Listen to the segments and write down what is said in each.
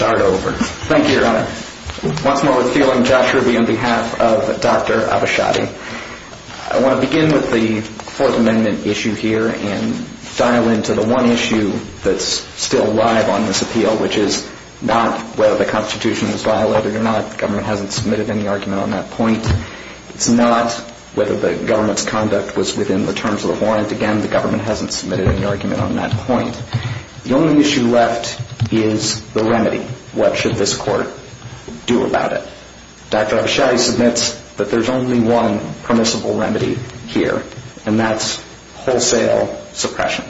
I want to begin with the Fourth Amendment issue here and dial into the one issue that's still alive on this appeal, which is not whether the Constitution is violated or not. The government hasn't submitted any argument on that point. It's not whether the government's conduct was within the terms of the warrant. Again, the government hasn't submitted any argument on that point. The only issue left is the remedy. What should this court do about it? Dr. Aboshady submits that there's only one permissible remedy here, and that's wholesale suppression.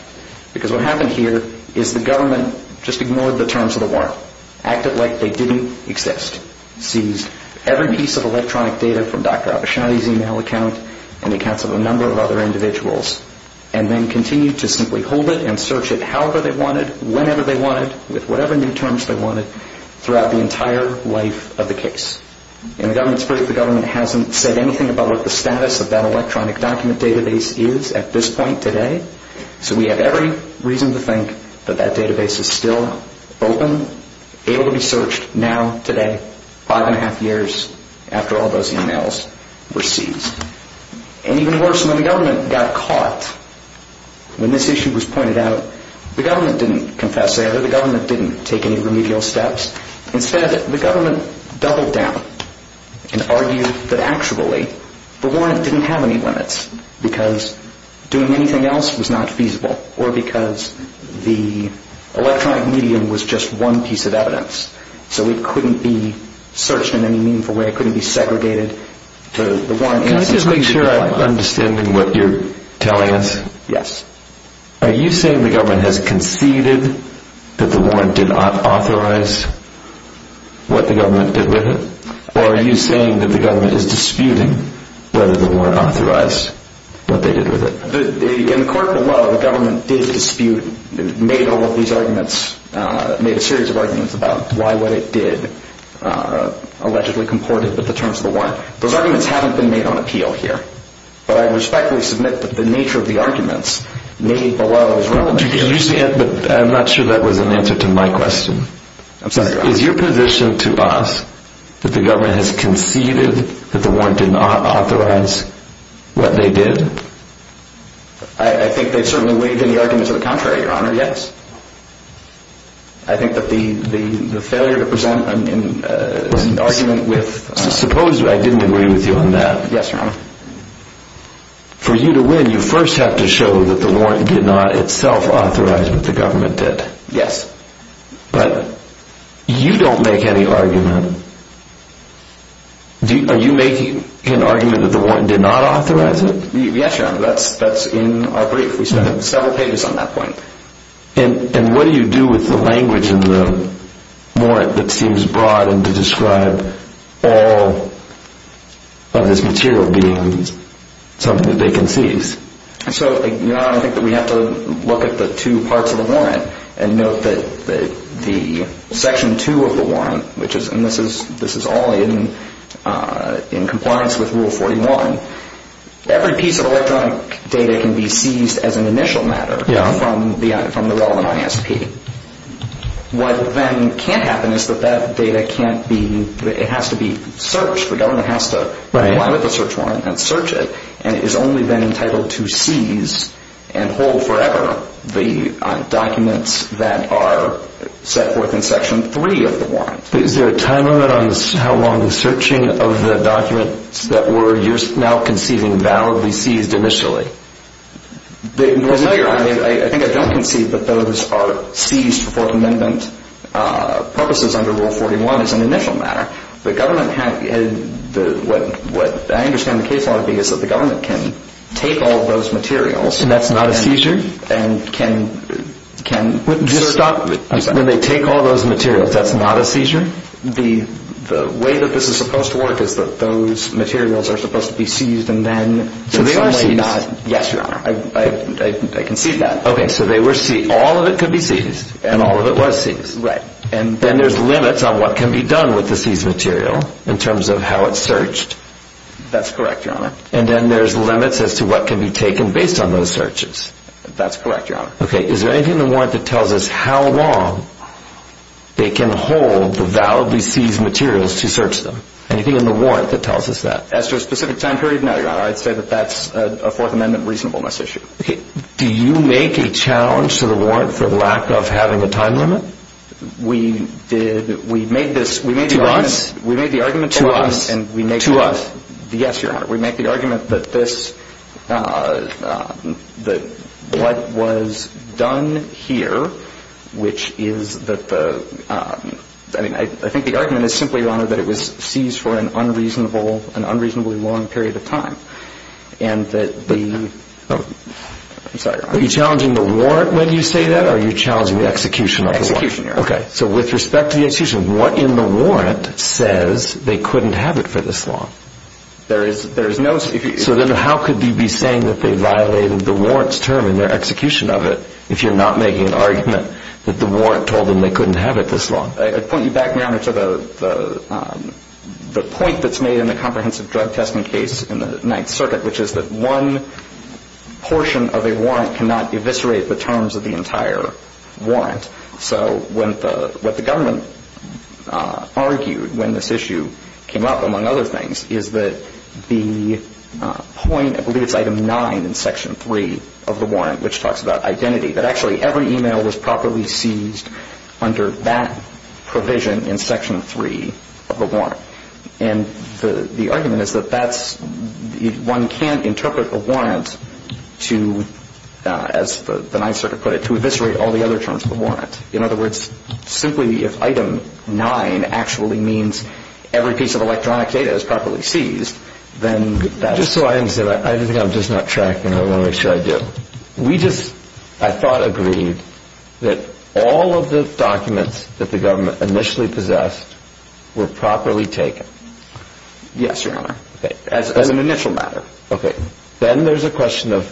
Because what happened here is the government just ignored the terms of the warrant, acted like they didn't exist, seized every piece of electronic data from Dr. Aboshady's email account and the accounts of a number of other individuals, and then continued to simply hold it and search it however they wanted, whenever they wanted, with whatever new terms they wanted, throughout the entire life of the case. And the government's free if the government hasn't said anything about what the status of that electronic document database is at this point today. So we have every reason to think that that database is still open, able to be searched now, today, five and a half years after all those emails were seized. And even worse, when the government got caught, when this issue was pointed out, the government didn't confess later, the government didn't take any remedial steps. Instead, the government doubled down and argued that actually the warrant didn't have any limits because doing anything else was not feasible, or because the electronic medium was just one piece of data. Can I just make sure I'm understanding what you're telling us? Yes. Are you saying the government has conceded that the warrant did not authorize what the government did with it? Or are you saying that the government is disputing whether the warrant authorized what they did with it? In the court below, the government did dispute, made all of these arguments, made a series of arguments about why what it did allegedly comported with the terms of the warrant. Those arguments haven't been made on appeal here. But I respectfully submit that the nature of the arguments made below is relevant. But I'm not sure that was an answer to my question. I'm sorry, Your Honor. Is your position to us that the government has conceded that the warrant did not authorize what they did? I think they certainly weighed in the arguments of the contrary, Your Honor, yes. I think that the failure to present an argument with... Suppose I didn't agree with you on that. Yes, Your Honor. For you to win, you first have to show that the warrant did not itself authorize what the government did. Yes. But you don't make any argument. Are you making an argument that the warrant did not authorize it? Yes, Your Honor. That's in our brief. We spent several pages on that point. And what do you do with the language in the warrant that seems broad and to describe all of this material being something that they can seize? So, Your Honor, I think that we have to look at the two parts of the warrant and note that the Section 2 of the warrant, and this is all in compliance with Rule 41, every piece of electronic data can be seized as an initial matter from the relevant ISP. What then can't happen is that that data can't be... It has to be searched. The government has to comply with the search warrant and search it, and it is only then entitled to seize and hold forever the documents that are set forth in Section 3 of the warrant. Is there a time limit on how long the searching of the documents that you're now conceiving validly seized initially? No, Your Honor. I think I don't conceive that those are seized for amendment purposes under Rule 41 as an initial matter. What I understand the case law to be is that the government can take all those materials... And that's not a seizure? And can... When they take all those materials, that's not a seizure? The way that this is supposed to work is that those materials are supposed to be seized and then... So they are seized? Yes, Your Honor. I conceive that. Okay, so they were seized. All of it could be seized, and all of it was seized. Right. Then there's limits on what can be done with the seized material in terms of how it's searched. That's correct, Your Honor. And then there's limits as to what can be taken based on those searches. That's correct, Your Honor. Okay. Is there anything in the warrant that tells us how long they can hold the validly seized materials to search them? Anything in the warrant that tells us that? As to a specific time period? No, Your Honor. I'd say that that's a Fourth Amendment reasonableness issue. Okay. Do you make a challenge to the warrant for lack of having a time limit? We did. We made this... To us? We made the argument... To us? To us. Yes, Your Honor. We make the argument that this... That what was done here, which is that the... I think the argument is simply, Your Honor, that it was seized for an unreasonably long period of time. And that the... I'm sorry, Your Honor. Are you challenging the warrant when you say that, or are you challenging the execution of the warrant? Execution, Your Honor. Okay. So with respect to the execution, what in the warrant says they couldn't have it for this long? There is no... So then how could you be saying that they violated the warrant's term in their execution of it if you're not making an argument that the warrant told them they couldn't have it this long? I'd point you back, Your Honor, to the point that's made in the comprehensive drug testing case in the Ninth Circuit, which is that one portion of a warrant cannot eviscerate the terms of the entire warrant. So what the government argued when this issue came up, among other things, is that the point, I believe it's item 9 in section 3 of the warrant, which talks about identity, that actually every email was properly seized under that provision in section 3 of the warrant. And the argument is that that's... One can't interpret a warrant to, as the Ninth Circuit put it, to eviscerate all the other terms of the warrant. In other words, simply if item 9 actually means every piece of electronic data is properly seized, then that... Just so I understand, I think I'm just not tracking, and I want to make sure I do. We just, I thought, agreed that all of the documents that the government initially possessed were properly taken. Yes, Your Honor, as an initial matter. Okay. Then there's a question of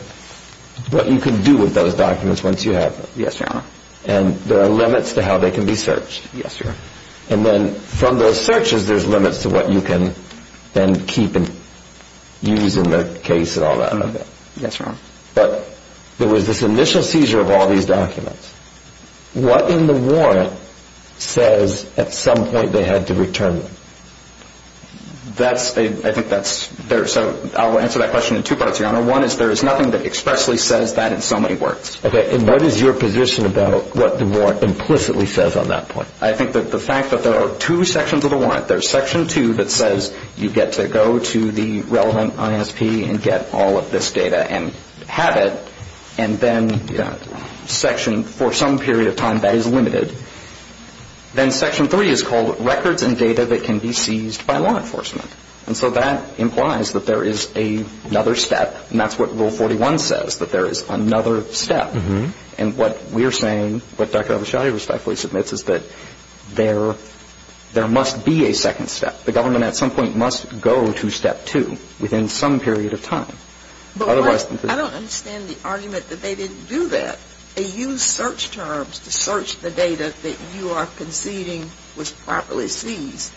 what you can do with those documents once you have them. Yes, Your Honor. And there are limits to how they can be searched. Yes, Your Honor. And then from those searches, there's limits to what you can then keep and use in the case and all that. Yes, Your Honor. But there was this initial seizure of all these documents. What in the warrant says at some point they had to return them? That's, I think that's... So I'll answer that question in two parts, Your Honor. One is there is nothing that expressly says that in so many works. Okay. And what is your position about what the warrant implicitly says on that point? There's Section 2 that says you get to go to the relevant ISP and get all of this data and have it. And then Section, for some period of time, that is limited. Then Section 3 is called records and data that can be seized by law enforcement. And so that implies that there is another step. And that's what Rule 41 says, that there is another step. And what we're saying, what Dr. Al-Bashawi respectfully submits, is that there must be a second step. The government at some point must go to Step 2 within some period of time. But I don't understand the argument that they didn't do that. They used search terms to search the data that you are conceding was properly seized.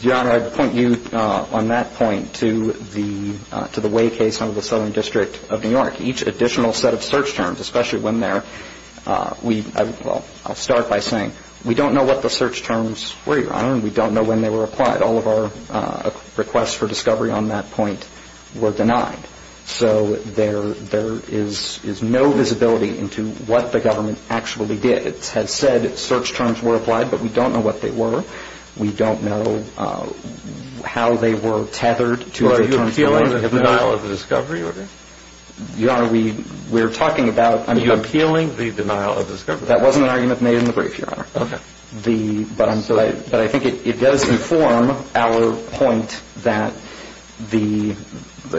Your Honor, I'd point you on that point to the way case under the Southern District of New York. In fact, each additional set of search terms, especially when they're, we, well, I'll start by saying, we don't know what the search terms were, Your Honor, and we don't know when they were applied. All of our requests for discovery on that point were denied. So there is no visibility into what the government actually did. It has said search terms were applied, but we don't know what they were. We don't know how they were tethered to the terms. Appealing the denial of the discovery order? Your Honor, we're talking about appealing the denial of the discovery order. That wasn't an argument made in the brief, Your Honor. Okay. But I think it does inform our point that the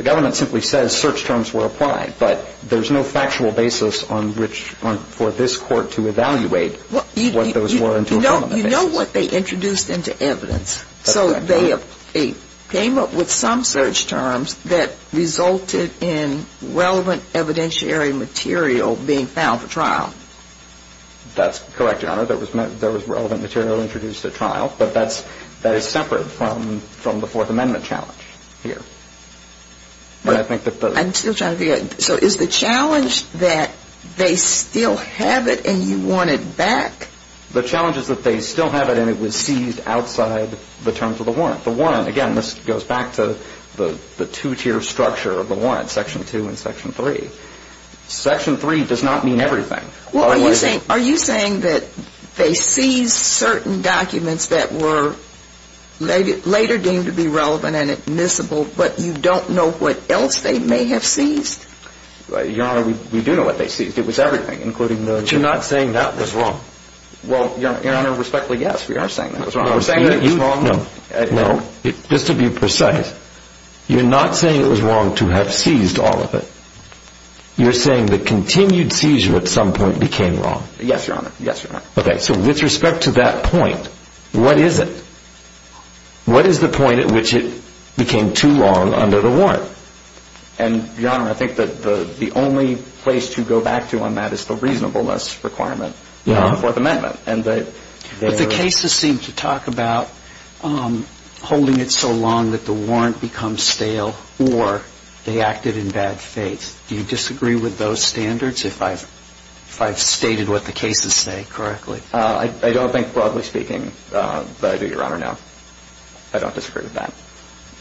government simply says search terms were applied, but there's no factual basis on which, for this Court to evaluate what those were into a formal basis. You know what they introduced into evidence. So they came up with some search terms that resulted in relevant evidentiary material being found for trial. That's correct, Your Honor. There was relevant material introduced at trial, but that is separate from the Fourth Amendment challenge here. I'm still trying to figure out. So is the challenge that they still have it and you want it back? The challenge is that they still have it and it was seized outside the terms of the warrant. The warrant, again, this goes back to the two-tier structure of the warrant, Section 2 and Section 3. Section 3 does not mean everything. Are you saying that they seized certain documents that were later deemed to be relevant and admissible, but you don't know what else they may have seized? Your Honor, we do know what they seized. But you're not saying that was wrong. Well, Your Honor, respectfully, yes, we are saying that was wrong. No, just to be precise, you're not saying it was wrong to have seized all of it. You're saying the continued seizure at some point became wrong. Yes, Your Honor. Okay, so with respect to that point, what is it? What is the point at which it became too long under the warrant? Your Honor, I think that the only place to go back to on that is the reasonableness requirement under the Fourth Amendment. But the cases seem to talk about holding it so long that the warrant becomes stale or they acted in bad faith. Do you disagree with those standards if I've stated what the cases say correctly? I don't think, broadly speaking, but I do, Your Honor, no, I don't disagree with that.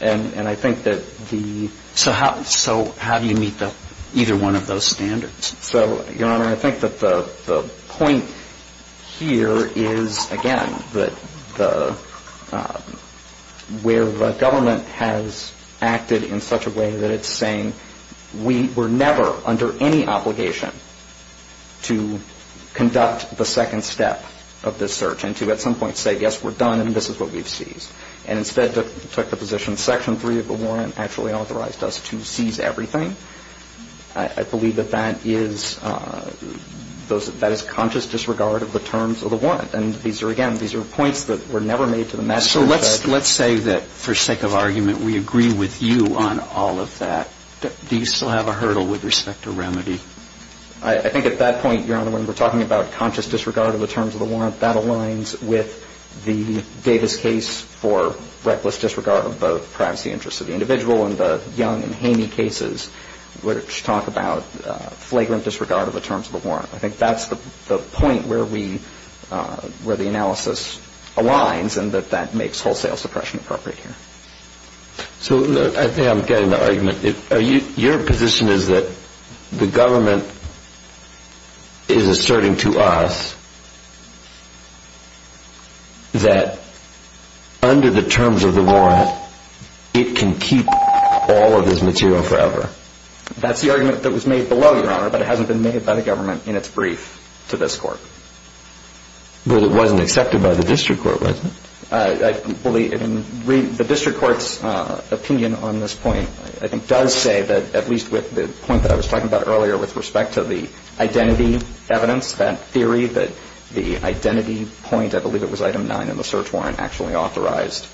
And I think that the ‑‑ So how do you meet either one of those standards? So, Your Honor, I think that the point here is, again, where the government has acted in such a way that it's saying we were never under any obligation to conduct the second step of this search and to at some point say, yes, we're done and this is what we've seized. And instead took the position, Section 3 of the warrant actually authorized us to seize everything. I believe that that is conscious disregard of the terms of the warrant. And these are, again, these are points that were never made to the maximum effect. So let's say that, for sake of argument, we agree with you on all of that. Do you still have a hurdle with respect to remedy? I think at that point, Your Honor, when we're talking about conscious disregard of the terms of the warrant, that aligns with the Davis case for reckless disregard of both privacy interests of the individual and the Young and Haney cases, which talk about flagrant disregard of the terms of the warrant. I think that's the point where we ‑‑ where the analysis aligns and that that makes wholesale suppression appropriate here. So I think I'm getting the argument. Your position is that the government is asserting to us that under the terms of the warrant, it can keep all of this material forever. That's the argument that was made below, Your Honor, but it hasn't been made by the government in its brief to this court. But it wasn't accepted by the district court, was it? Well, the district court's opinion on this point, I think, does say that, at least with the point that I was talking about earlier with respect to the identity evidence, that theory that the identity point, I believe it was item 9 in the search warrant, actually authorized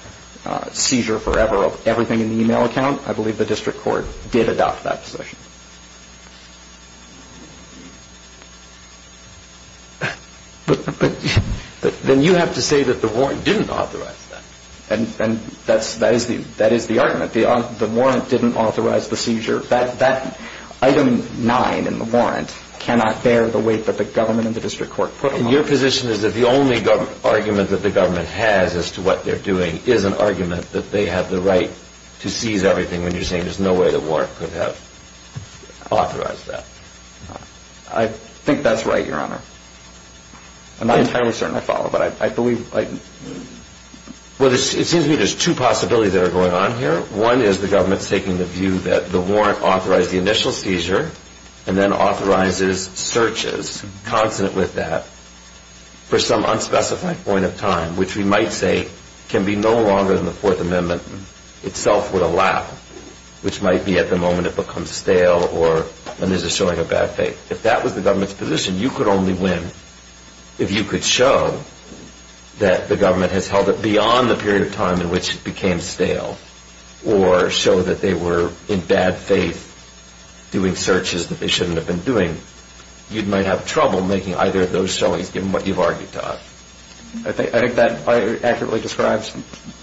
seizure forever of everything in the e-mail account. I believe the district court did adopt that position. But then you have to say that the warrant didn't authorize that. And that is the argument. The warrant didn't authorize the seizure. That item 9 in the warrant cannot bear the weight that the government and the district court put on it. Your position is that the only argument that the government has as to what they're doing is an argument that they have the right to seize everything when you're saying there's no way the warrant could have? Authorized that. I think that's right, Your Honor. I'm not entirely certain I follow, but I believe. Well, it seems to me there's two possibilities that are going on here. One is the government's taking the view that the warrant authorized the initial seizure and then authorizes searches, consonant with that, for some unspecified point of time, which we might say can be no longer than the Fourth Amendment itself would allow, which might be at the moment it becomes stale or when there's a showing of bad faith. If that was the government's position, you could only win if you could show that the government has held it beyond the period of time in which it became stale or show that they were in bad faith doing searches that they shouldn't have been doing. You might have trouble making either of those showings given what you've argued to us. I think that accurately describes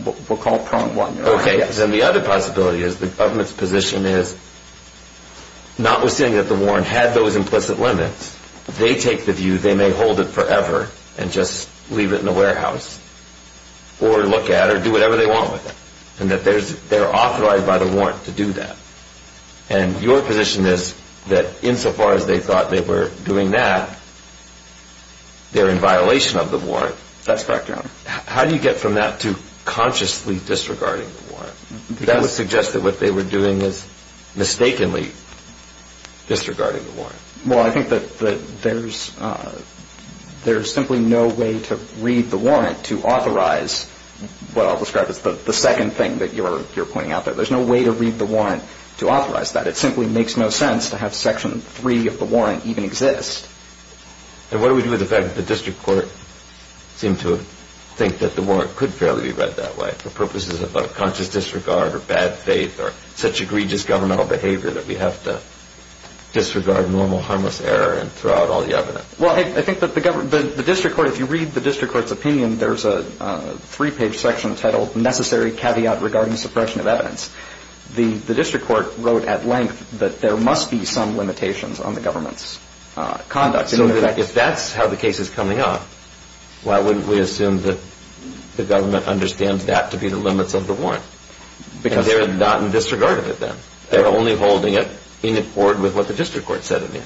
what we'll call prong one, Your Honor. Okay, then the other possibility is the government's position is, notwithstanding that the warrant had those implicit limits, they take the view they may hold it forever and just leave it in the warehouse or look at or do whatever they want with it and that they're authorized by the warrant to do that. And your position is that insofar as they thought they were doing that, they're in violation of the warrant. That's correct, Your Honor. How do you get from that to consciously disregarding the warrant? That would suggest that what they were doing is mistakenly disregarding the warrant. Well, I think that there's simply no way to read the warrant to authorize what I'll describe as the second thing that you're pointing out there. There's no way to read the warrant to authorize that. It simply makes no sense to have Section 3 of the warrant even exist. And what do we do with the fact that the district court seemed to think that the warrant could fairly be read that way for purposes of a conscious disregard or bad faith or such egregious governmental behavior that we have to disregard normal harmless error and throw out all the evidence? Well, I think that the district court, if you read the district court's opinion, there's a three-page section titled Necessary Caveat Regarding Suppression of Evidence. The district court wrote at length that there must be some limitations on the government's conduct. So if that's how the case is coming off, why wouldn't we assume that the government understands that to be the limits of the warrant? Because they're not in disregard of it then. They're only holding it in accord with what the district court said it is.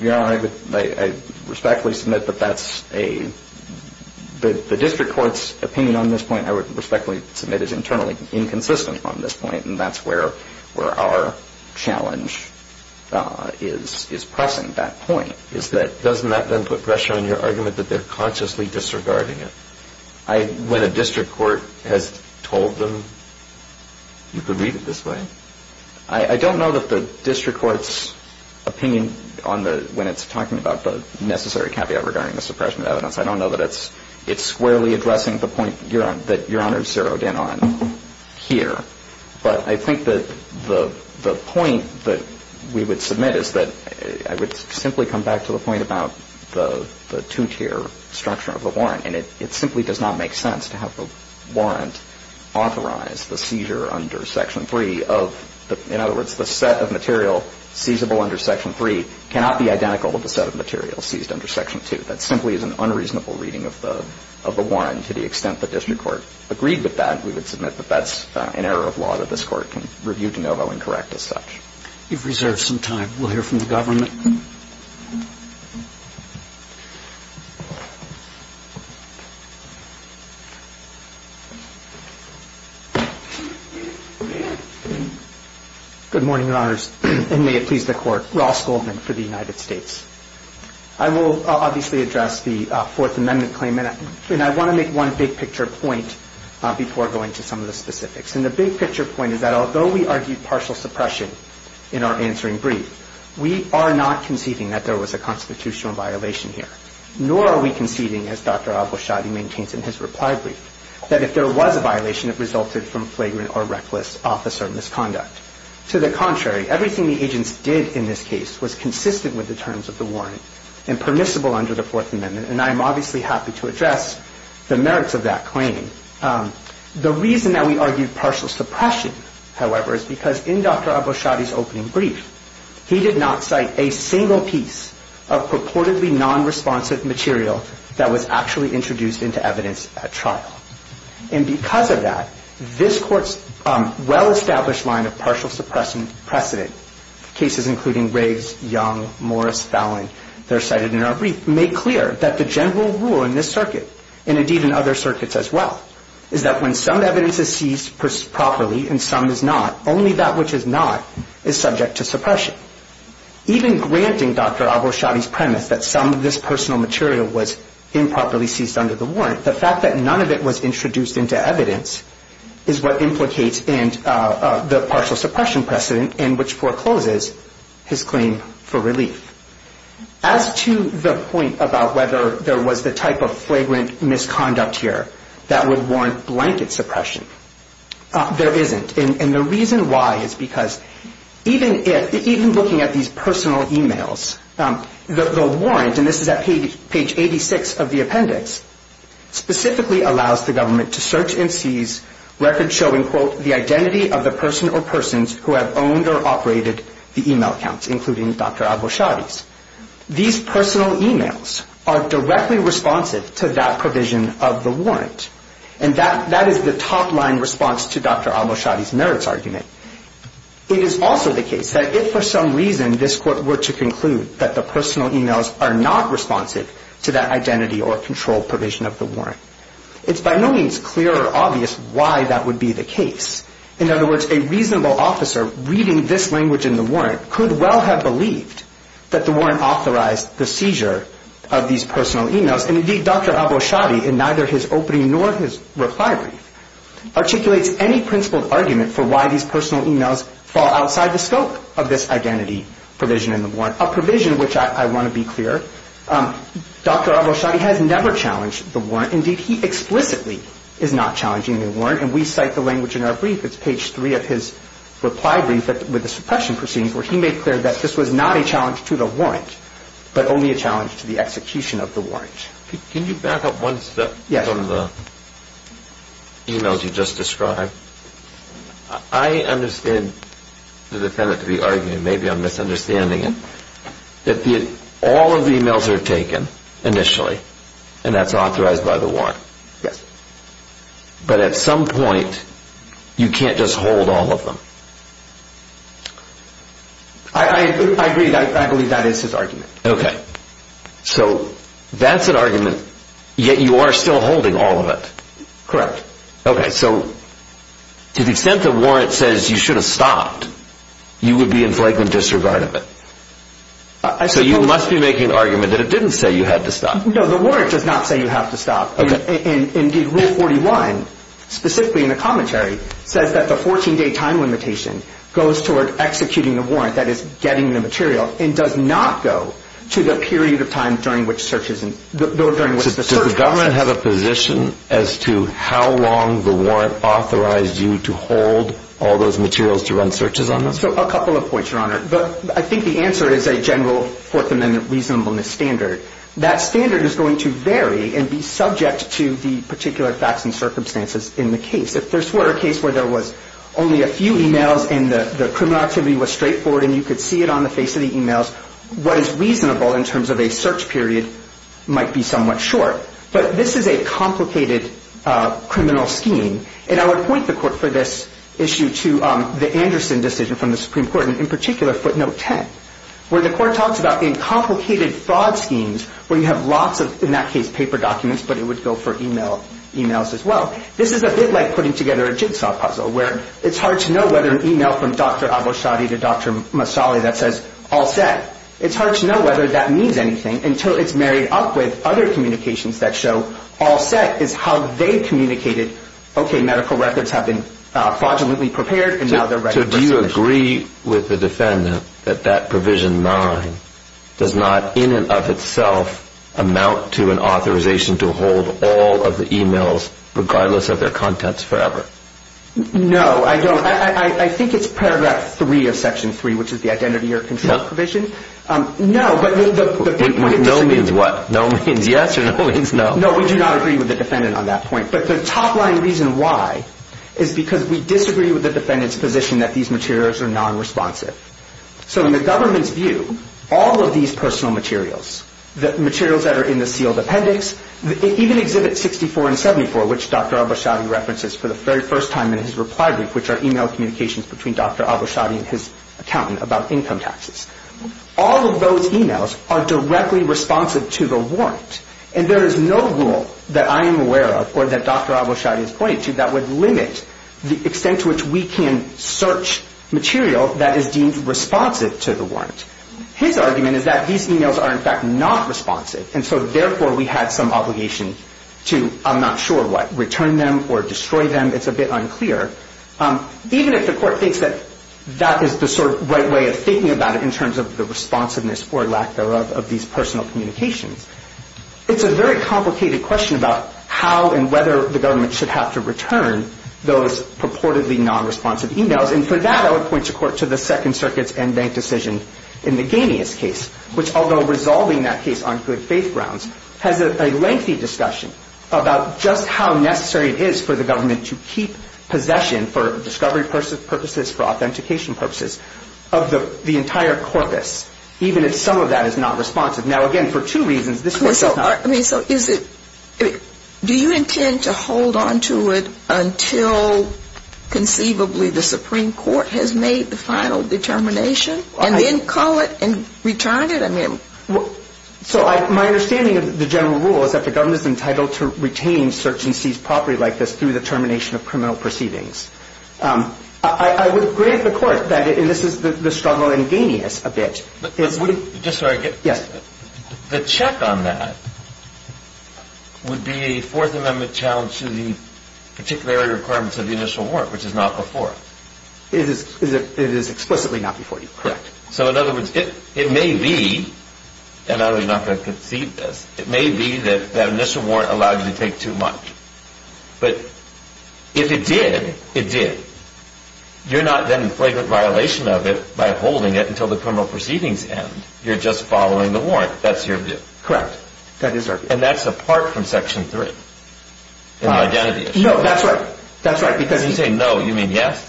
Yeah, I respectfully submit that that's a – the district court's opinion on this point, I would respectfully submit, is internally inconsistent on this point, and that's where our challenge is pressing, that point. Doesn't that then put pressure on your argument that they're consciously disregarding it? When a district court has told them you could read it this way? I don't know that the district court's opinion when it's talking about the necessary caveat regarding the suppression of evidence, I don't know that it's squarely addressing the point that Your Honor zeroed in on here. But I think that the point that we would submit is that – I would simply come back to the point about the two-tier structure of the warrant, and it simply does not make sense to have the warrant authorize the seizure under Section 3 of – in other words, the set of material seizable under Section 3 cannot be identical with the set of material seized under Section 2. That simply is an unreasonable reading of the warrant to the extent the district court agreed with that. We would submit that that's an error of law that this Court can review de novo and correct as such. You've reserved some time. We'll hear from the government. Good morning, Your Honors, and may it please the Court. Ross Goldman for the United States. I will obviously address the Fourth Amendment claim, and I want to make one big-picture point before going to some of the specifics. And the big-picture point is that although we argued partial suppression in our answering brief, we are not conceding that there was a constitutional violation here, nor are we conceding, as Dr. Agboshadi maintains in his reply brief, that if there was a violation, it resulted from flagrant or reckless officer misconduct. To the contrary, everything the agents did in this case was consistent with the terms of the warrant and permissible under the Fourth Amendment, and I am obviously happy to address the merits of that claim. The reason that we argued partial suppression, however, is because in Dr. Agboshadi's opening brief, he did not cite a single piece of purportedly nonresponsive material that was actually introduced into evidence at trial. And because of that, this Court's well-established line of partial suppression precedent, cases including Riggs, Young, Morris, Fallon, they're cited in our brief, make clear that the general rule in this circuit, and indeed in other circuits as well, is that when some evidence is seized properly and some is not, only that which is not is subject to suppression. Even granting Dr. Agboshadi's premise that some of this personal material was improperly seized under the warrant, the fact that none of it was introduced into evidence is what implicates in the partial suppression precedent in which forecloses his claim for relief. As to the point about whether there was the type of flagrant misconduct here that would warrant blanket suppression, there isn't. And the reason why is because even looking at these personal e-mails, the warrant, and this is at page 86 of the appendix, specifically allows the government to search and seize records the identity of the person or persons who have owned or operated the e-mail accounts, including Dr. Agboshadi's. These personal e-mails are directly responsive to that provision of the warrant. And that is the top-line response to Dr. Agboshadi's merits argument. It is also the case that if for some reason this Court were to conclude that the personal e-mails are not responsive it's by no means clear or obvious why that would be the case. In other words, a reasonable officer reading this language in the warrant could well have believed that the warrant authorized the seizure of these personal e-mails. And indeed, Dr. Agboshadi, in neither his opening nor his reply brief, articulates any principled argument for why these personal e-mails fall outside the scope of this identity provision in the warrant, a provision which I want to be clear, Dr. Agboshadi has never challenged the warrant. Indeed, he explicitly is not challenging the warrant. And we cite the language in our brief, it's page 3 of his reply brief with the suppression proceedings, where he made clear that this was not a challenge to the warrant, but only a challenge to the execution of the warrant. Can you back up one step from the e-mails you just described? I understand the defendant to be arguing, maybe I'm misunderstanding him, that all of the e-mails are taken, initially, and that's authorized by the warrant. Yes. But at some point, you can't just hold all of them. I agree, I believe that is his argument. Okay. So, that's an argument, yet you are still holding all of it. Correct. Okay. So, to the extent the warrant says you should have stopped, you would be in flagrant disregard of it. So, you must be making an argument that it didn't say you had to stop. No, the warrant does not say you have to stop. And indeed, Rule 41, specifically in the commentary, says that the 14-day time limitation goes toward executing the warrant, that is, getting the material, and does not go to the period of time during which the search process... As to how long the warrant authorized you to hold all those materials to run searches on them? So, a couple of points, Your Honor. I think the answer is a general Fourth Amendment reasonableness standard. That standard is going to vary and be subject to the particular facts and circumstances in the case. If this were a case where there was only a few e-mails and the criminal activity was straightforward and you could see it on the face of the e-mails, what is reasonable in terms of a search period might be somewhat short. But this is a complicated criminal scheme. And I would point the Court for this issue to the Anderson decision from the Supreme Court, and in particular, footnote 10, where the Court talks about in complicated fraud schemes where you have lots of, in that case, paper documents, but it would go for e-mails as well. This is a bit like putting together a jigsaw puzzle where it's hard to know whether an e-mail from Dr. Aboshadi to Dr. Massali that says, all set, it's hard to know whether that means anything until it's married up with other communications that show all set is how they communicated, okay, medical records have been fraudulently prepared and now they're ready for submission. So do you agree with the defendant that that provision 9 does not in and of itself amount to an authorization to hold all of the e-mails regardless of their contents forever? No, I don't. I think it's paragraph 3 of section 3, which is the identity or control provision. No means what? No means yes or no means no? No, we do not agree with the defendant on that point. But the top-line reason why is because we disagree with the defendant's position that these materials are non-responsive. So in the government's view, all of these personal materials, the materials that are in the sealed appendix, it even exhibits 64 and 74, which Dr. Aboshadi references for the very first time in his reply brief, which are e-mail communications between Dr. Aboshadi and his accountant about income taxes. All of those e-mails are directly responsive to the warrant, and there is no rule that I am aware of or that Dr. Aboshadi is pointing to that would limit the extent to which we can search material that is deemed responsive to the warrant. His argument is that these e-mails are, in fact, not responsive, and so therefore we had some obligation to, I'm not sure what, return them or destroy them. It's a bit unclear. Even if the Court thinks that that is the sort of right way of thinking about it in terms of the responsiveness or lack thereof of these personal communications, it's a very complicated question about how and whether the government should have to return those purportedly non-responsive e-mails. And for that, I would point the Court to the Second Circuit's end date decision in the Ganius case, which, although resolving that case on good faith grounds, has a lengthy discussion about just how necessary it is for the government to keep possession for discovery purposes, for authentication purposes, of the entire corpus, even if some of that is not responsive. Now, again, for two reasons. So do you intend to hold on to it until conceivably the Supreme Court has made the final determination and then call it and return it? So my understanding of the general rule is that the government is entitled to retain, search, and seize property like this through the termination of criminal proceedings. I would grant the Court that, and this is the struggle in Ganius a bit. Just so I get it. Yes. The check on that would be a Fourth Amendment challenge to the particular requirements of the initial warrant, which is not before. It is explicitly not before you. Correct. So in other words, it may be, and I'm not going to concede this, it may be that that initial warrant allowed you to take too much. But if it did, it did. You're not then in flagrant violation of it by holding it until the criminal proceedings end. You're just following the warrant. That's your view. Correct. That is our view. And that's apart from Section 3 in the identity issue. No, that's right. That's right. Because when you say no, you mean yes?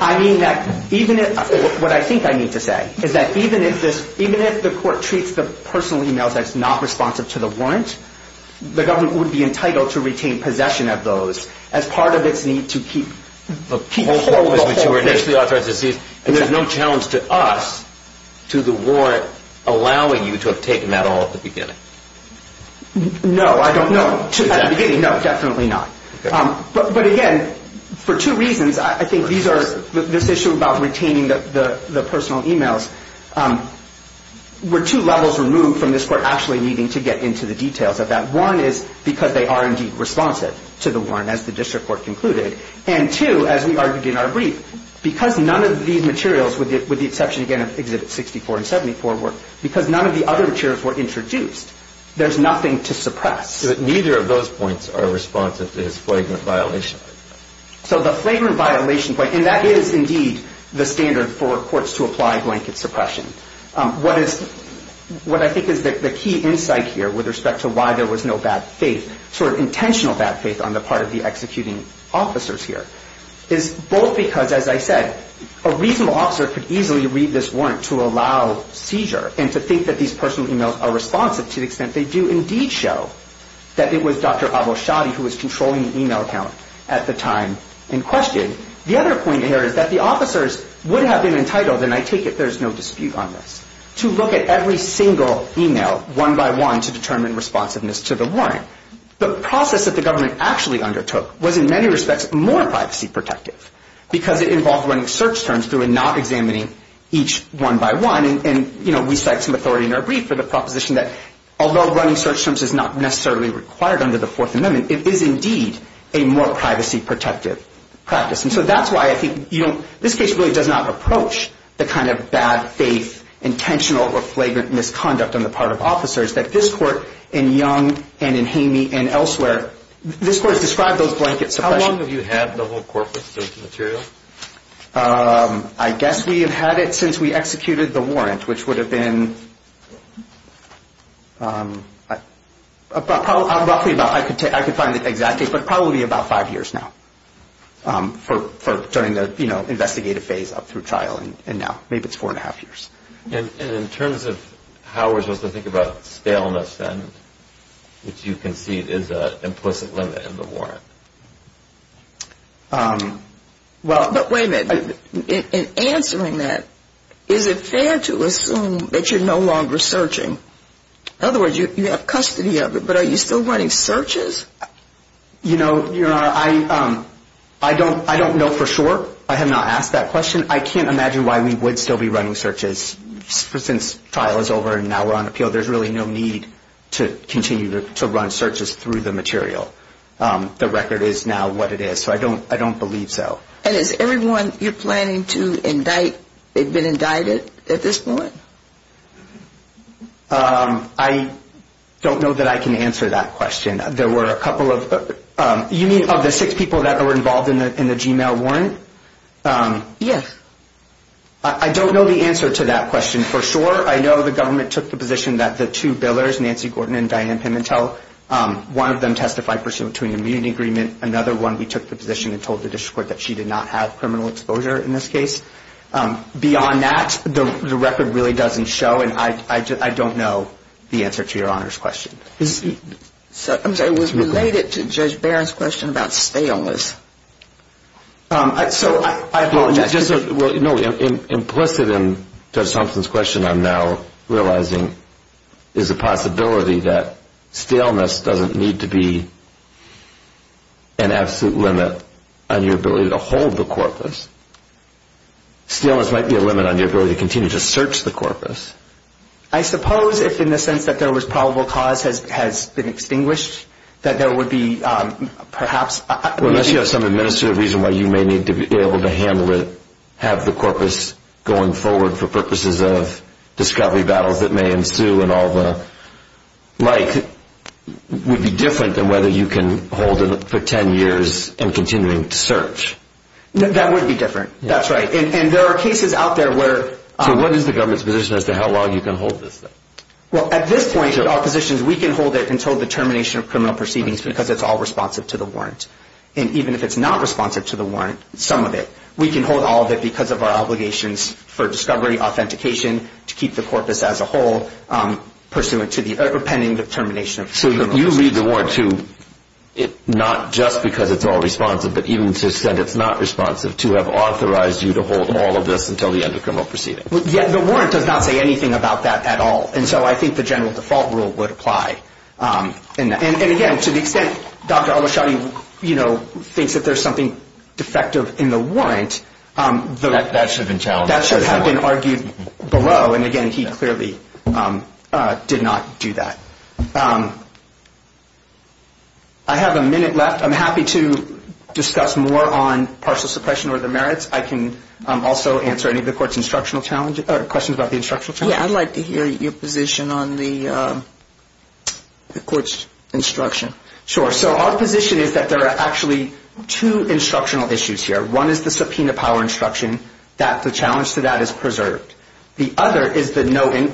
I mean that even if, what I think I need to say is that even if this, even if the Court treats the personal e-mails as not responsive to the warrant, the government would be entitled to retain possession of those as part of its need to keep hold of them. But the whole point is that you were initially authorized to seize, and there's no challenge to us, to the warrant, allowing you to have taken that all at the beginning. No, I don't know. At the beginning, no, definitely not. But again, for two reasons, I think these are, this issue about retaining the personal e-mails, were two levels removed from this Court actually needing to get into the details of that. One is because they are indeed responsive to the warrant, as the district court concluded. And two, as we argued in our brief, because none of these materials, with the exception again of Exhibits 64 and 74, because none of the other materials were introduced, there's nothing to suppress. Neither of those points are responsive to his flagrant violation. So the flagrant violation, and that is indeed the standard for courts to apply blanket suppression. What I think is the key insight here with respect to why there was no bad faith, sort of intentional bad faith on the part of the executing officers here, is both because, as I said, a reasonable officer could easily read this warrant to allow seizure and to think that these personal e-mails are responsive to the extent they do indeed show that it was Dr. Aboshadi who was controlling the e-mail account at the time in question. The other point here is that the officers would have been entitled, and I take it there's no dispute on this, to look at every single e-mail one by one to determine responsiveness to the warrant. The process that the government actually undertook was in many respects more privacy protective because it involved running search terms through and not examining each one by one. And, you know, we cite some authority in our brief for the proposition that, although running search terms is not necessarily required under the Fourth Amendment, it is indeed a more privacy protective practice. And so that's why I think this case really does not approach the kind of bad faith, intentional or flagrant misconduct on the part of officers that this court, and Young and in Hamey and elsewhere, this court has described those blankets of pressure. How long have you had the whole corporate safety material? I guess we have had it since we executed the warrant, which would have been roughly about, I could find the exact date, but probably about five years now for during the investigative phase up through trial and now. Maybe it's four and a half years. And in terms of how we're supposed to think about scaleness then, which you concede is an implicit limit in the warrant. But wait a minute. In answering that, is it fair to assume that you're no longer searching? In other words, you have custody of it, but are you still running searches? You know, Your Honor, I don't know for sure. I have not asked that question. I can't imagine why we would still be running searches since trial is over and now we're on appeal. So there's really no need to continue to run searches through the material. The record is now what it is, so I don't believe so. And is everyone you're planning to indict, they've been indicted at this point? I don't know that I can answer that question. There were a couple of, you mean of the six people that were involved in the Gmail warrant? Yes. I don't know the answer to that question for sure. I know the government took the position that the two billers, Nancy Gordon and Diane Pimentel, one of them testified pursuant to an immunity agreement, another one we took the position and told the district court that she did not have criminal exposure in this case. Beyond that, the record really doesn't show, and I don't know the answer to Your Honor's question. It was related to Judge Barron's question about scaleness. So I apologize. No, implicit in Judge Thompson's question I'm now realizing is a possibility that scaleness doesn't need to be an absolute limit on your ability to hold the corpus. Scaleness might be a limit on your ability to continue to search the corpus. I suppose if in the sense that there was probable cause has been extinguished, that there would be perhaps... Unless you have some administrative reason why you may need to be able to handle it, have the corpus going forward for purposes of discovery battles that may ensue and all the like, would be different than whether you can hold it for 10 years and continuing to search. That would be different. That's right. And there are cases out there where... So what is the government's position as to how long you can hold this thing? Well, at this point our position is we can hold it until the termination of criminal proceedings because it's all responsive to the warrant. And even if it's not responsive to the warrant, some of it, we can hold all of it because of our obligations for discovery, authentication, to keep the corpus as a whole, pursuant to the pending termination of criminal proceedings. So you leave the warrant to, not just because it's all responsive, but even to the extent it's not responsive, to have authorized you to hold all of this until the end of criminal proceedings. The warrant does not say anything about that at all. And so I think the general default rule would apply. And, again, to the extent Dr. Al-Mashadi thinks that there's something defective in the warrant... That should have been challenged. That should have been argued below, and, again, he clearly did not do that. I have a minute left. I'm happy to discuss more on partial suppression or the merits. I can also answer any of the Court's questions about the instructional challenge. Yeah, I'd like to hear your position on the Court's instruction. Sure. So our position is that there are actually two instructional issues here. One is the subpoena power instruction, that the challenge to that is preserved. The other is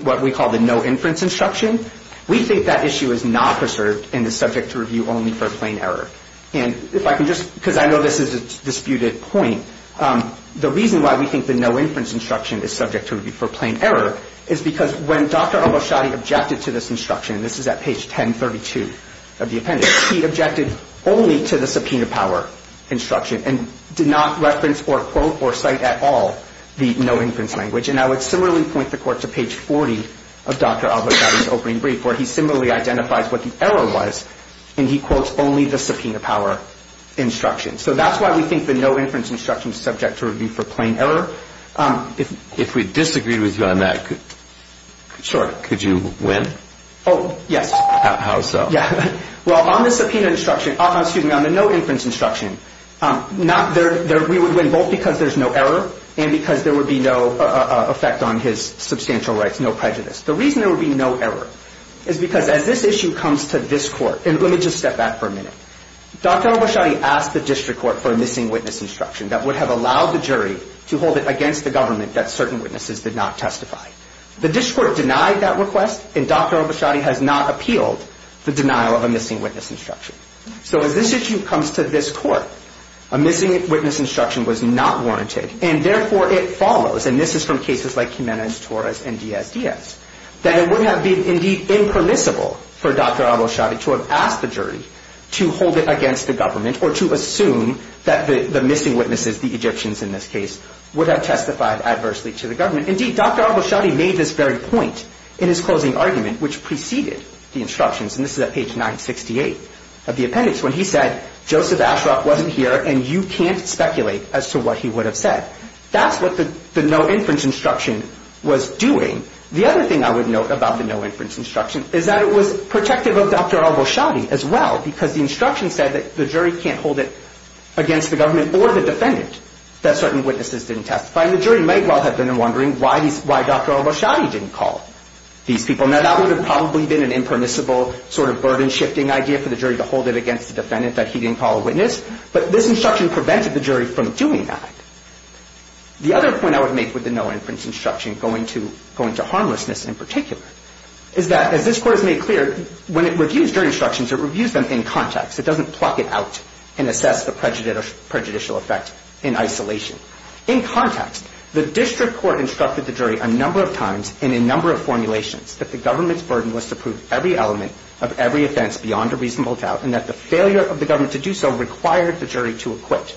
what we call the no inference instruction. We think that issue is not preserved and is subject to review only for plain error. And if I can just, because I know this is a disputed point, the reason why we think the no inference instruction is subject to review for plain error is because when Dr. Al-Mashadi objected to this instruction, this is at page 1032 of the appendix, he objected only to the subpoena power instruction and did not reference or quote or cite at all the no inference language. And I would similarly point the Court to page 40 of Dr. Al-Mashadi's opening brief where he similarly identifies what the error was and he quotes only the subpoena power instruction. So that's why we think the no inference instruction is subject to review for plain error. If we disagreed with you on that, could you win? Oh, yes. How so? Well, on the subpoena instruction, excuse me, on the no inference instruction, we would win both because there's no error and because there would be no effect on his substantial rights, no prejudice. The reason there would be no error is because as this issue comes to this Court, and let me just step back for a minute, Dr. Al-Mashadi asked the District Court for a missing witness instruction that would have allowed the jury to hold it against the government that certain witnesses did not testify. The District Court denied that request and Dr. Al-Mashadi has not appealed the denial of a missing witness instruction. So as this issue comes to this Court, a missing witness instruction was not warranted and therefore it follows, and this is from cases like Jimenez-Torres and Diaz-Diaz, that it would have been indeed impermissible for Dr. Al-Mashadi to have asked the jury to hold it against the government or to assume that the missing witnesses, the Egyptians in this case, would have testified adversely to the government. Indeed, Dr. Al-Mashadi made this very point in his closing argument, which preceded the instructions, and this is at page 968 of the appendix, when he said, Joseph Ashrock wasn't here and you can't speculate as to what he would have said. That's what the no inference instruction was doing. The other thing I would note about the no inference instruction is that it was protective of Dr. Al-Mashadi as well because the instruction said that the jury can't hold it against the government or the defendant that certain witnesses didn't testify. The jury may well have been wondering why Dr. Al-Mashadi didn't call these people. Now that would have probably been an impermissible sort of burden-shifting idea for the jury to hold it against the defendant that he didn't call a witness, but this instruction prevented the jury from doing that. The other point I would make with the no inference instruction, going to harmlessness in particular, is that, as this Court has made clear, when it reviews jury instructions, it reviews them in context. It doesn't pluck it out and assess the prejudicial effect in isolation. In context, the district court instructed the jury a number of times in a number of formulations that the government's burden was to prove every element of every offense beyond a reasonable doubt and that the failure of the government to do so required the jury to acquit.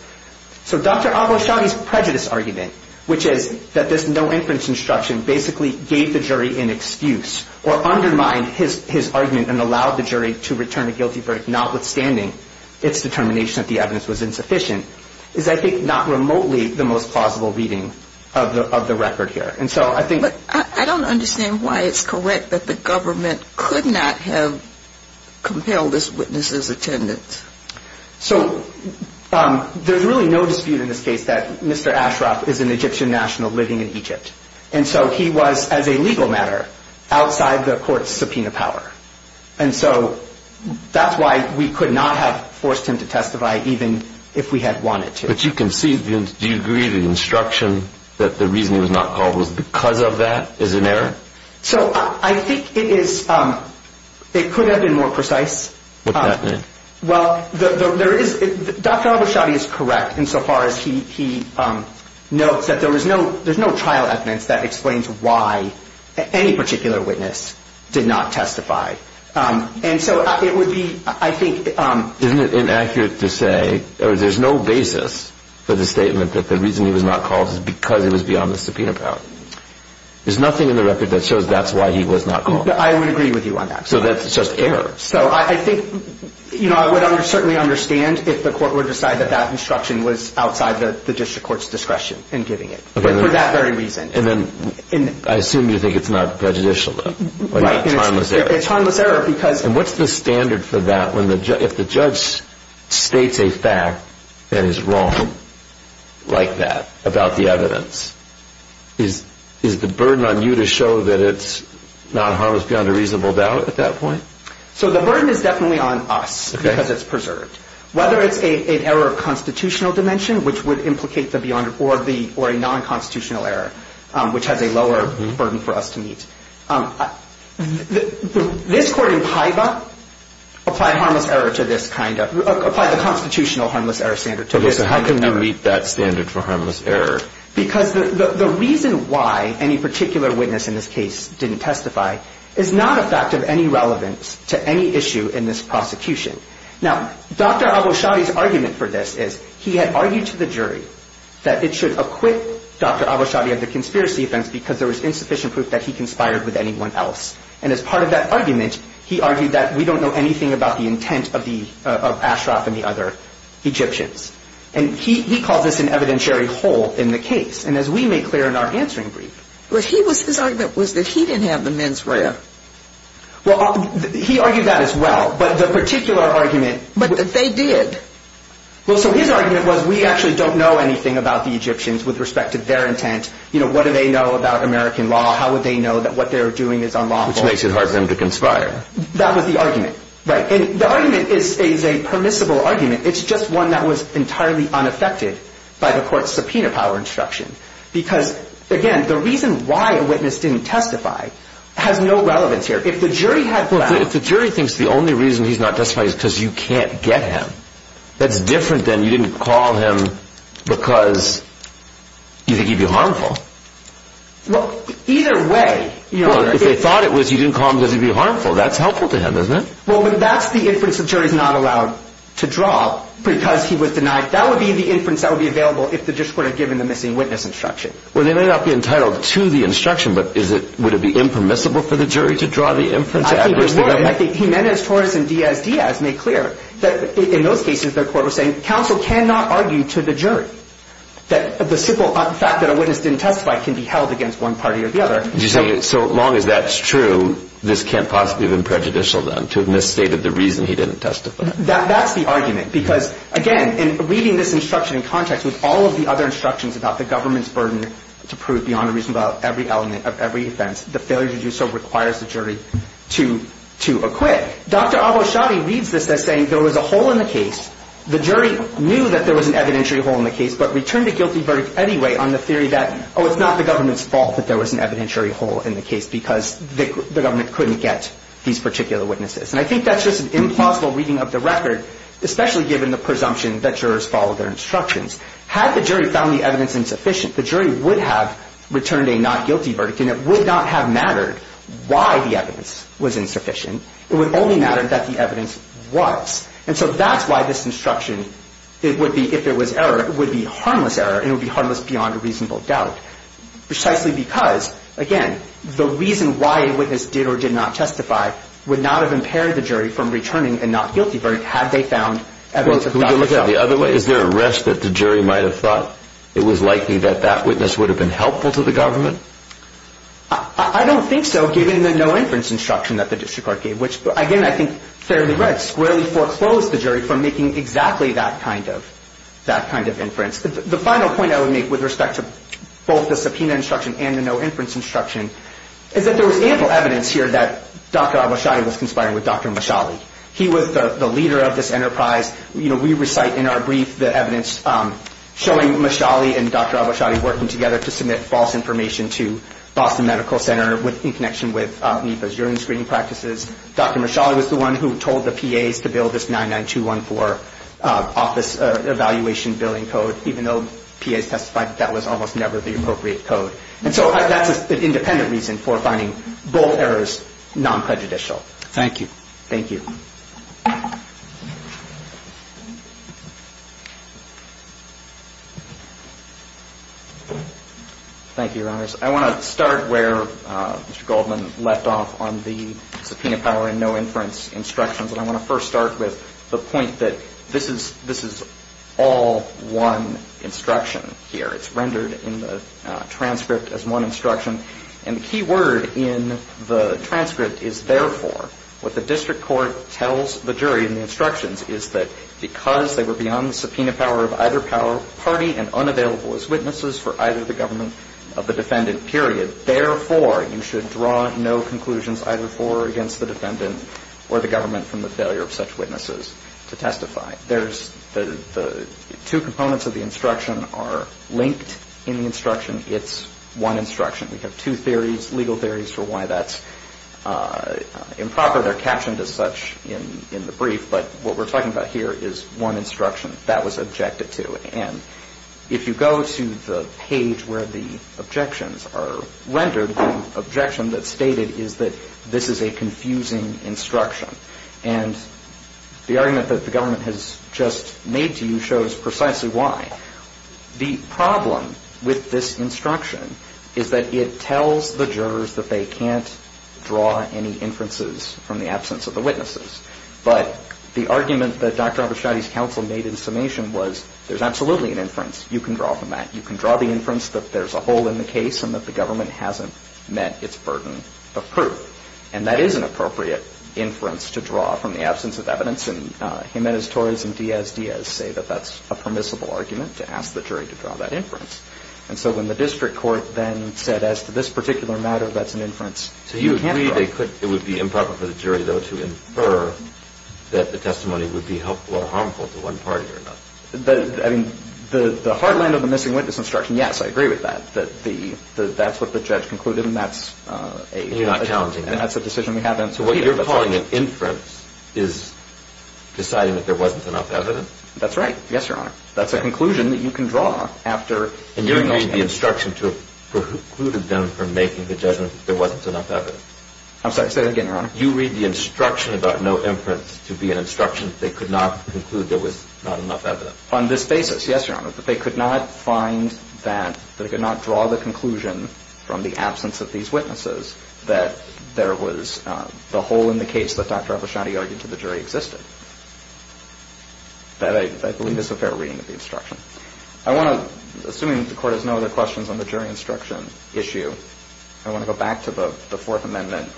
So Dr. Al-Mashadi's prejudice argument, which is that this no inference instruction basically gave the jury an excuse or undermined his argument and allowed the jury to return a guilty verdict notwithstanding its determination that the evidence was insufficient, is, I think, not remotely the most plausible reading of the record here. But I don't understand why it's correct that the government could not have compelled this witness's attendance. So there's really no dispute in this case that Mr. Ashraf is an Egyptian national living in Egypt. And so he was, as a legal matter, outside the Court's subpoena power. And so that's why we could not have forced him to testify, even if we had wanted to. But you can see the degree of the instruction that the reason he was not called was because of that is an error? So I think it could have been more precise. What's that mean? Well, Dr. Al-Mashadi is correct insofar as he notes that there's no trial evidence that explains why any particular witness did not testify. And so it would be, I think— Isn't it inaccurate to say there's no basis for the statement that the reason he was not called is because he was beyond the subpoena power? There's nothing in the record that shows that's why he was not called. I would agree with you on that. So that's just error. So I think I would certainly understand if the Court would decide that that instruction was outside the district court's discretion in giving it, for that very reason. And then I assume you think it's not prejudicial, though. Right. It's harmless error. It's harmless error because— And what's the standard for that if the judge states a fact that is wrong like that about the evidence? Is the burden on you to show that it's not harmless beyond a reasonable doubt at that point? So the burden is definitely on us because it's preserved. Whether it's an error of constitutional dimension, which would implicate the beyond or a non-constitutional error, which has a lower burden for us to meet. This Court in Paiva applied the constitutional harmless error standard to this kind of error. Okay. So how can we meet that standard for harmless error? Because the reason why any particular witness in this case didn't testify is not a fact of any relevance to any issue in this prosecution. Now, Dr. Abhoshabi's argument for this is he had argued to the jury that it should acquit Dr. Abhoshabi of the conspiracy offense because there was insufficient proof that he conspired with anyone else. And as part of that argument, he argued that we don't know anything about the intent of Ashraf and the other Egyptians. And he calls this an evidentiary hole in the case. And as we make clear in our answering brief— But his argument was that he didn't have the mens rea. Well, he argued that as well. But the particular argument— But they did. Well, so his argument was we actually don't know anything about the Egyptians with respect to their intent. You know, what do they know about American law? How would they know that what they're doing is unlawful? Which makes it hard for them to conspire. That was the argument. Right. And the argument is a permissible argument. It's just one that was entirely unaffected by the court's subpoena power instruction. Because, again, the reason why a witness didn't testify has no relevance here. If the jury had— Well, if the jury thinks the only reason he's not testifying is because you can't get him, that's different than you didn't call him because you think he'd be harmful. Well, either way— Well, if they thought it was you didn't call him because he'd be harmful, that's helpful to him, isn't it? Well, but that's the inference the jury's not allowed to draw because he was denied. That would be the inference that would be available if the district court had given the missing witness instruction. Well, they may not be entitled to the instruction, but would it be impermissible for the jury to draw the inference? I think it would. I think Jimenez, Torres, and Diaz made clear that in those cases their court was saying counsel cannot argue to the jury that the simple fact that a witness didn't testify can be held against one party or the other. So long as that's true, this can't possibly have been prejudicial, then, to have misstated the reason he didn't testify. That's the argument. Because, again, in reading this instruction in context with all of the other instructions about the government's burden to prove beyond a reasonable element of every offense, the failure to do so requires the jury to acquit. Dr. Aboshadi reads this as saying there was a hole in the case. The jury knew that there was an evidentiary hole in the case, but returned a guilty verdict anyway on the theory that, oh, it's not the government's fault that there was an evidentiary hole in the case because the government couldn't get these particular witnesses. And I think that's just an implausible reading of the record, especially given the presumption that jurors follow their instructions. Had the jury found the evidence insufficient, the jury would have returned a not guilty verdict, and it would not have mattered why the evidence was insufficient. It would only matter that the evidence was. And so that's why this instruction, if it was error, would be harmless error and it would be harmless beyond a reasonable doubt. Precisely because, again, the reason why a witness did or did not testify would not have impaired the jury from returning a not guilty verdict had they found evidence of Dr. Aboshadi. Well, can we go look at it the other way? Is there a risk that the jury might have thought it was likely that that witness would have been helpful to the government? I don't think so, given the no inference instruction that the district court gave, which, again, I think fairly read, squarely foreclosed the jury from making exactly that kind of inference. The final point I would make with respect to both the subpoena instruction and the no inference instruction is that there was ample evidence here that Dr. Aboshadi was conspiring with Dr. Mashali. He was the leader of this enterprise. We recite in our brief the evidence showing Mashali and Dr. Aboshadi working together to submit false information to Boston Medical Center in connection with NEPA's urine screening practices. Dr. Mashali was the one who told the PAs to build this 99214 office evaluation billing code, even though PAs testified that that was almost never the appropriate code. And so that's an independent reason for finding both errors non-prejudicial. Thank you. Thank you. Thank you, Your Honors. I want to start where Mr. Goldman left off on the subpoena power and no inference instructions. And I want to first start with the point that this is all one instruction here. It's rendered in the transcript as one instruction. And the key word in the transcript is, therefore, what the district court tells the jury in the instructions is that because they were beyond the subpoena power of either party and unavailable as witnesses for either the government of the defendant, period, therefore you should draw no conclusions either for or against the defendant or the government from the failure of such witnesses to testify. The two components of the instruction are linked in the instruction. It's one instruction. We have two theories, legal theories, for why that's improper. They're captioned as such in the brief, but what we're talking about here is one instruction that was objected to. And if you go to the page where the objections are rendered, the objection that's stated is that this is a confusing instruction. And the argument that the government has just made to you shows precisely why. The problem with this instruction is that it tells the jurors that they can't draw any inferences from the absence of the witnesses. But the argument that Dr. Avrashadi's counsel made in summation was there's absolutely an inference. You can draw from that. You can draw the inference that there's a hole in the case and that the government hasn't met its burden of proof. And that is an appropriate inference to draw from the absence of evidence, and Jimenez-Torres and Diaz-Diaz say that that's a permissible argument to ask the jury to draw that inference. And so when the district court then said as to this particular matter that's an inference, you can't draw. So you agree it would be improper for the jury, though, to infer that the testimony would be helpful or harmful to one party or another? I mean, the heartland of the missing witness instruction, yes, I agree with that. That's what the judge concluded, and that's a decision we have to answer. So what you're calling an inference is deciding that there wasn't enough evidence? That's right. Yes, Your Honor. That's a conclusion that you can draw after you're going to have it. And you read the instruction to have precluded them from making the judgment that there wasn't enough evidence? I'm sorry, say that again, Your Honor. You read the instruction about no inference to be an instruction that they could not conclude there was not enough evidence? On this basis, yes, Your Honor, that they could not find that, that they could not draw the conclusion from the absence of these witnesses that there was the hole in the case that Dr. Abishadi argued to the jury existed. That I believe is a fair reading of the instruction. I want to, assuming the Court has no other questions on the jury instruction issue, I want to go back to the Fourth Amendment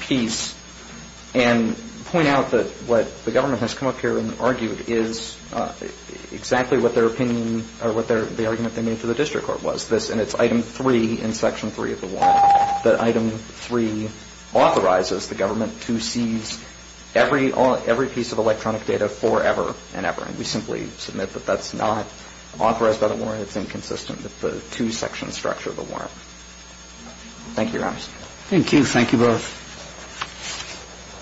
piece and point out that what the government has come up here and argued is exactly what their opinion or what the argument they made to the district court was. And it's Item 3 in Section 3 of the law that Item 3 authorizes the government to seize every piece of electronic data forever and ever. And we simply submit that that's not authorized by the warrant. It's inconsistent with the two-section structure of the warrant. Thank you, Your Honor. Thank you. Thank you both.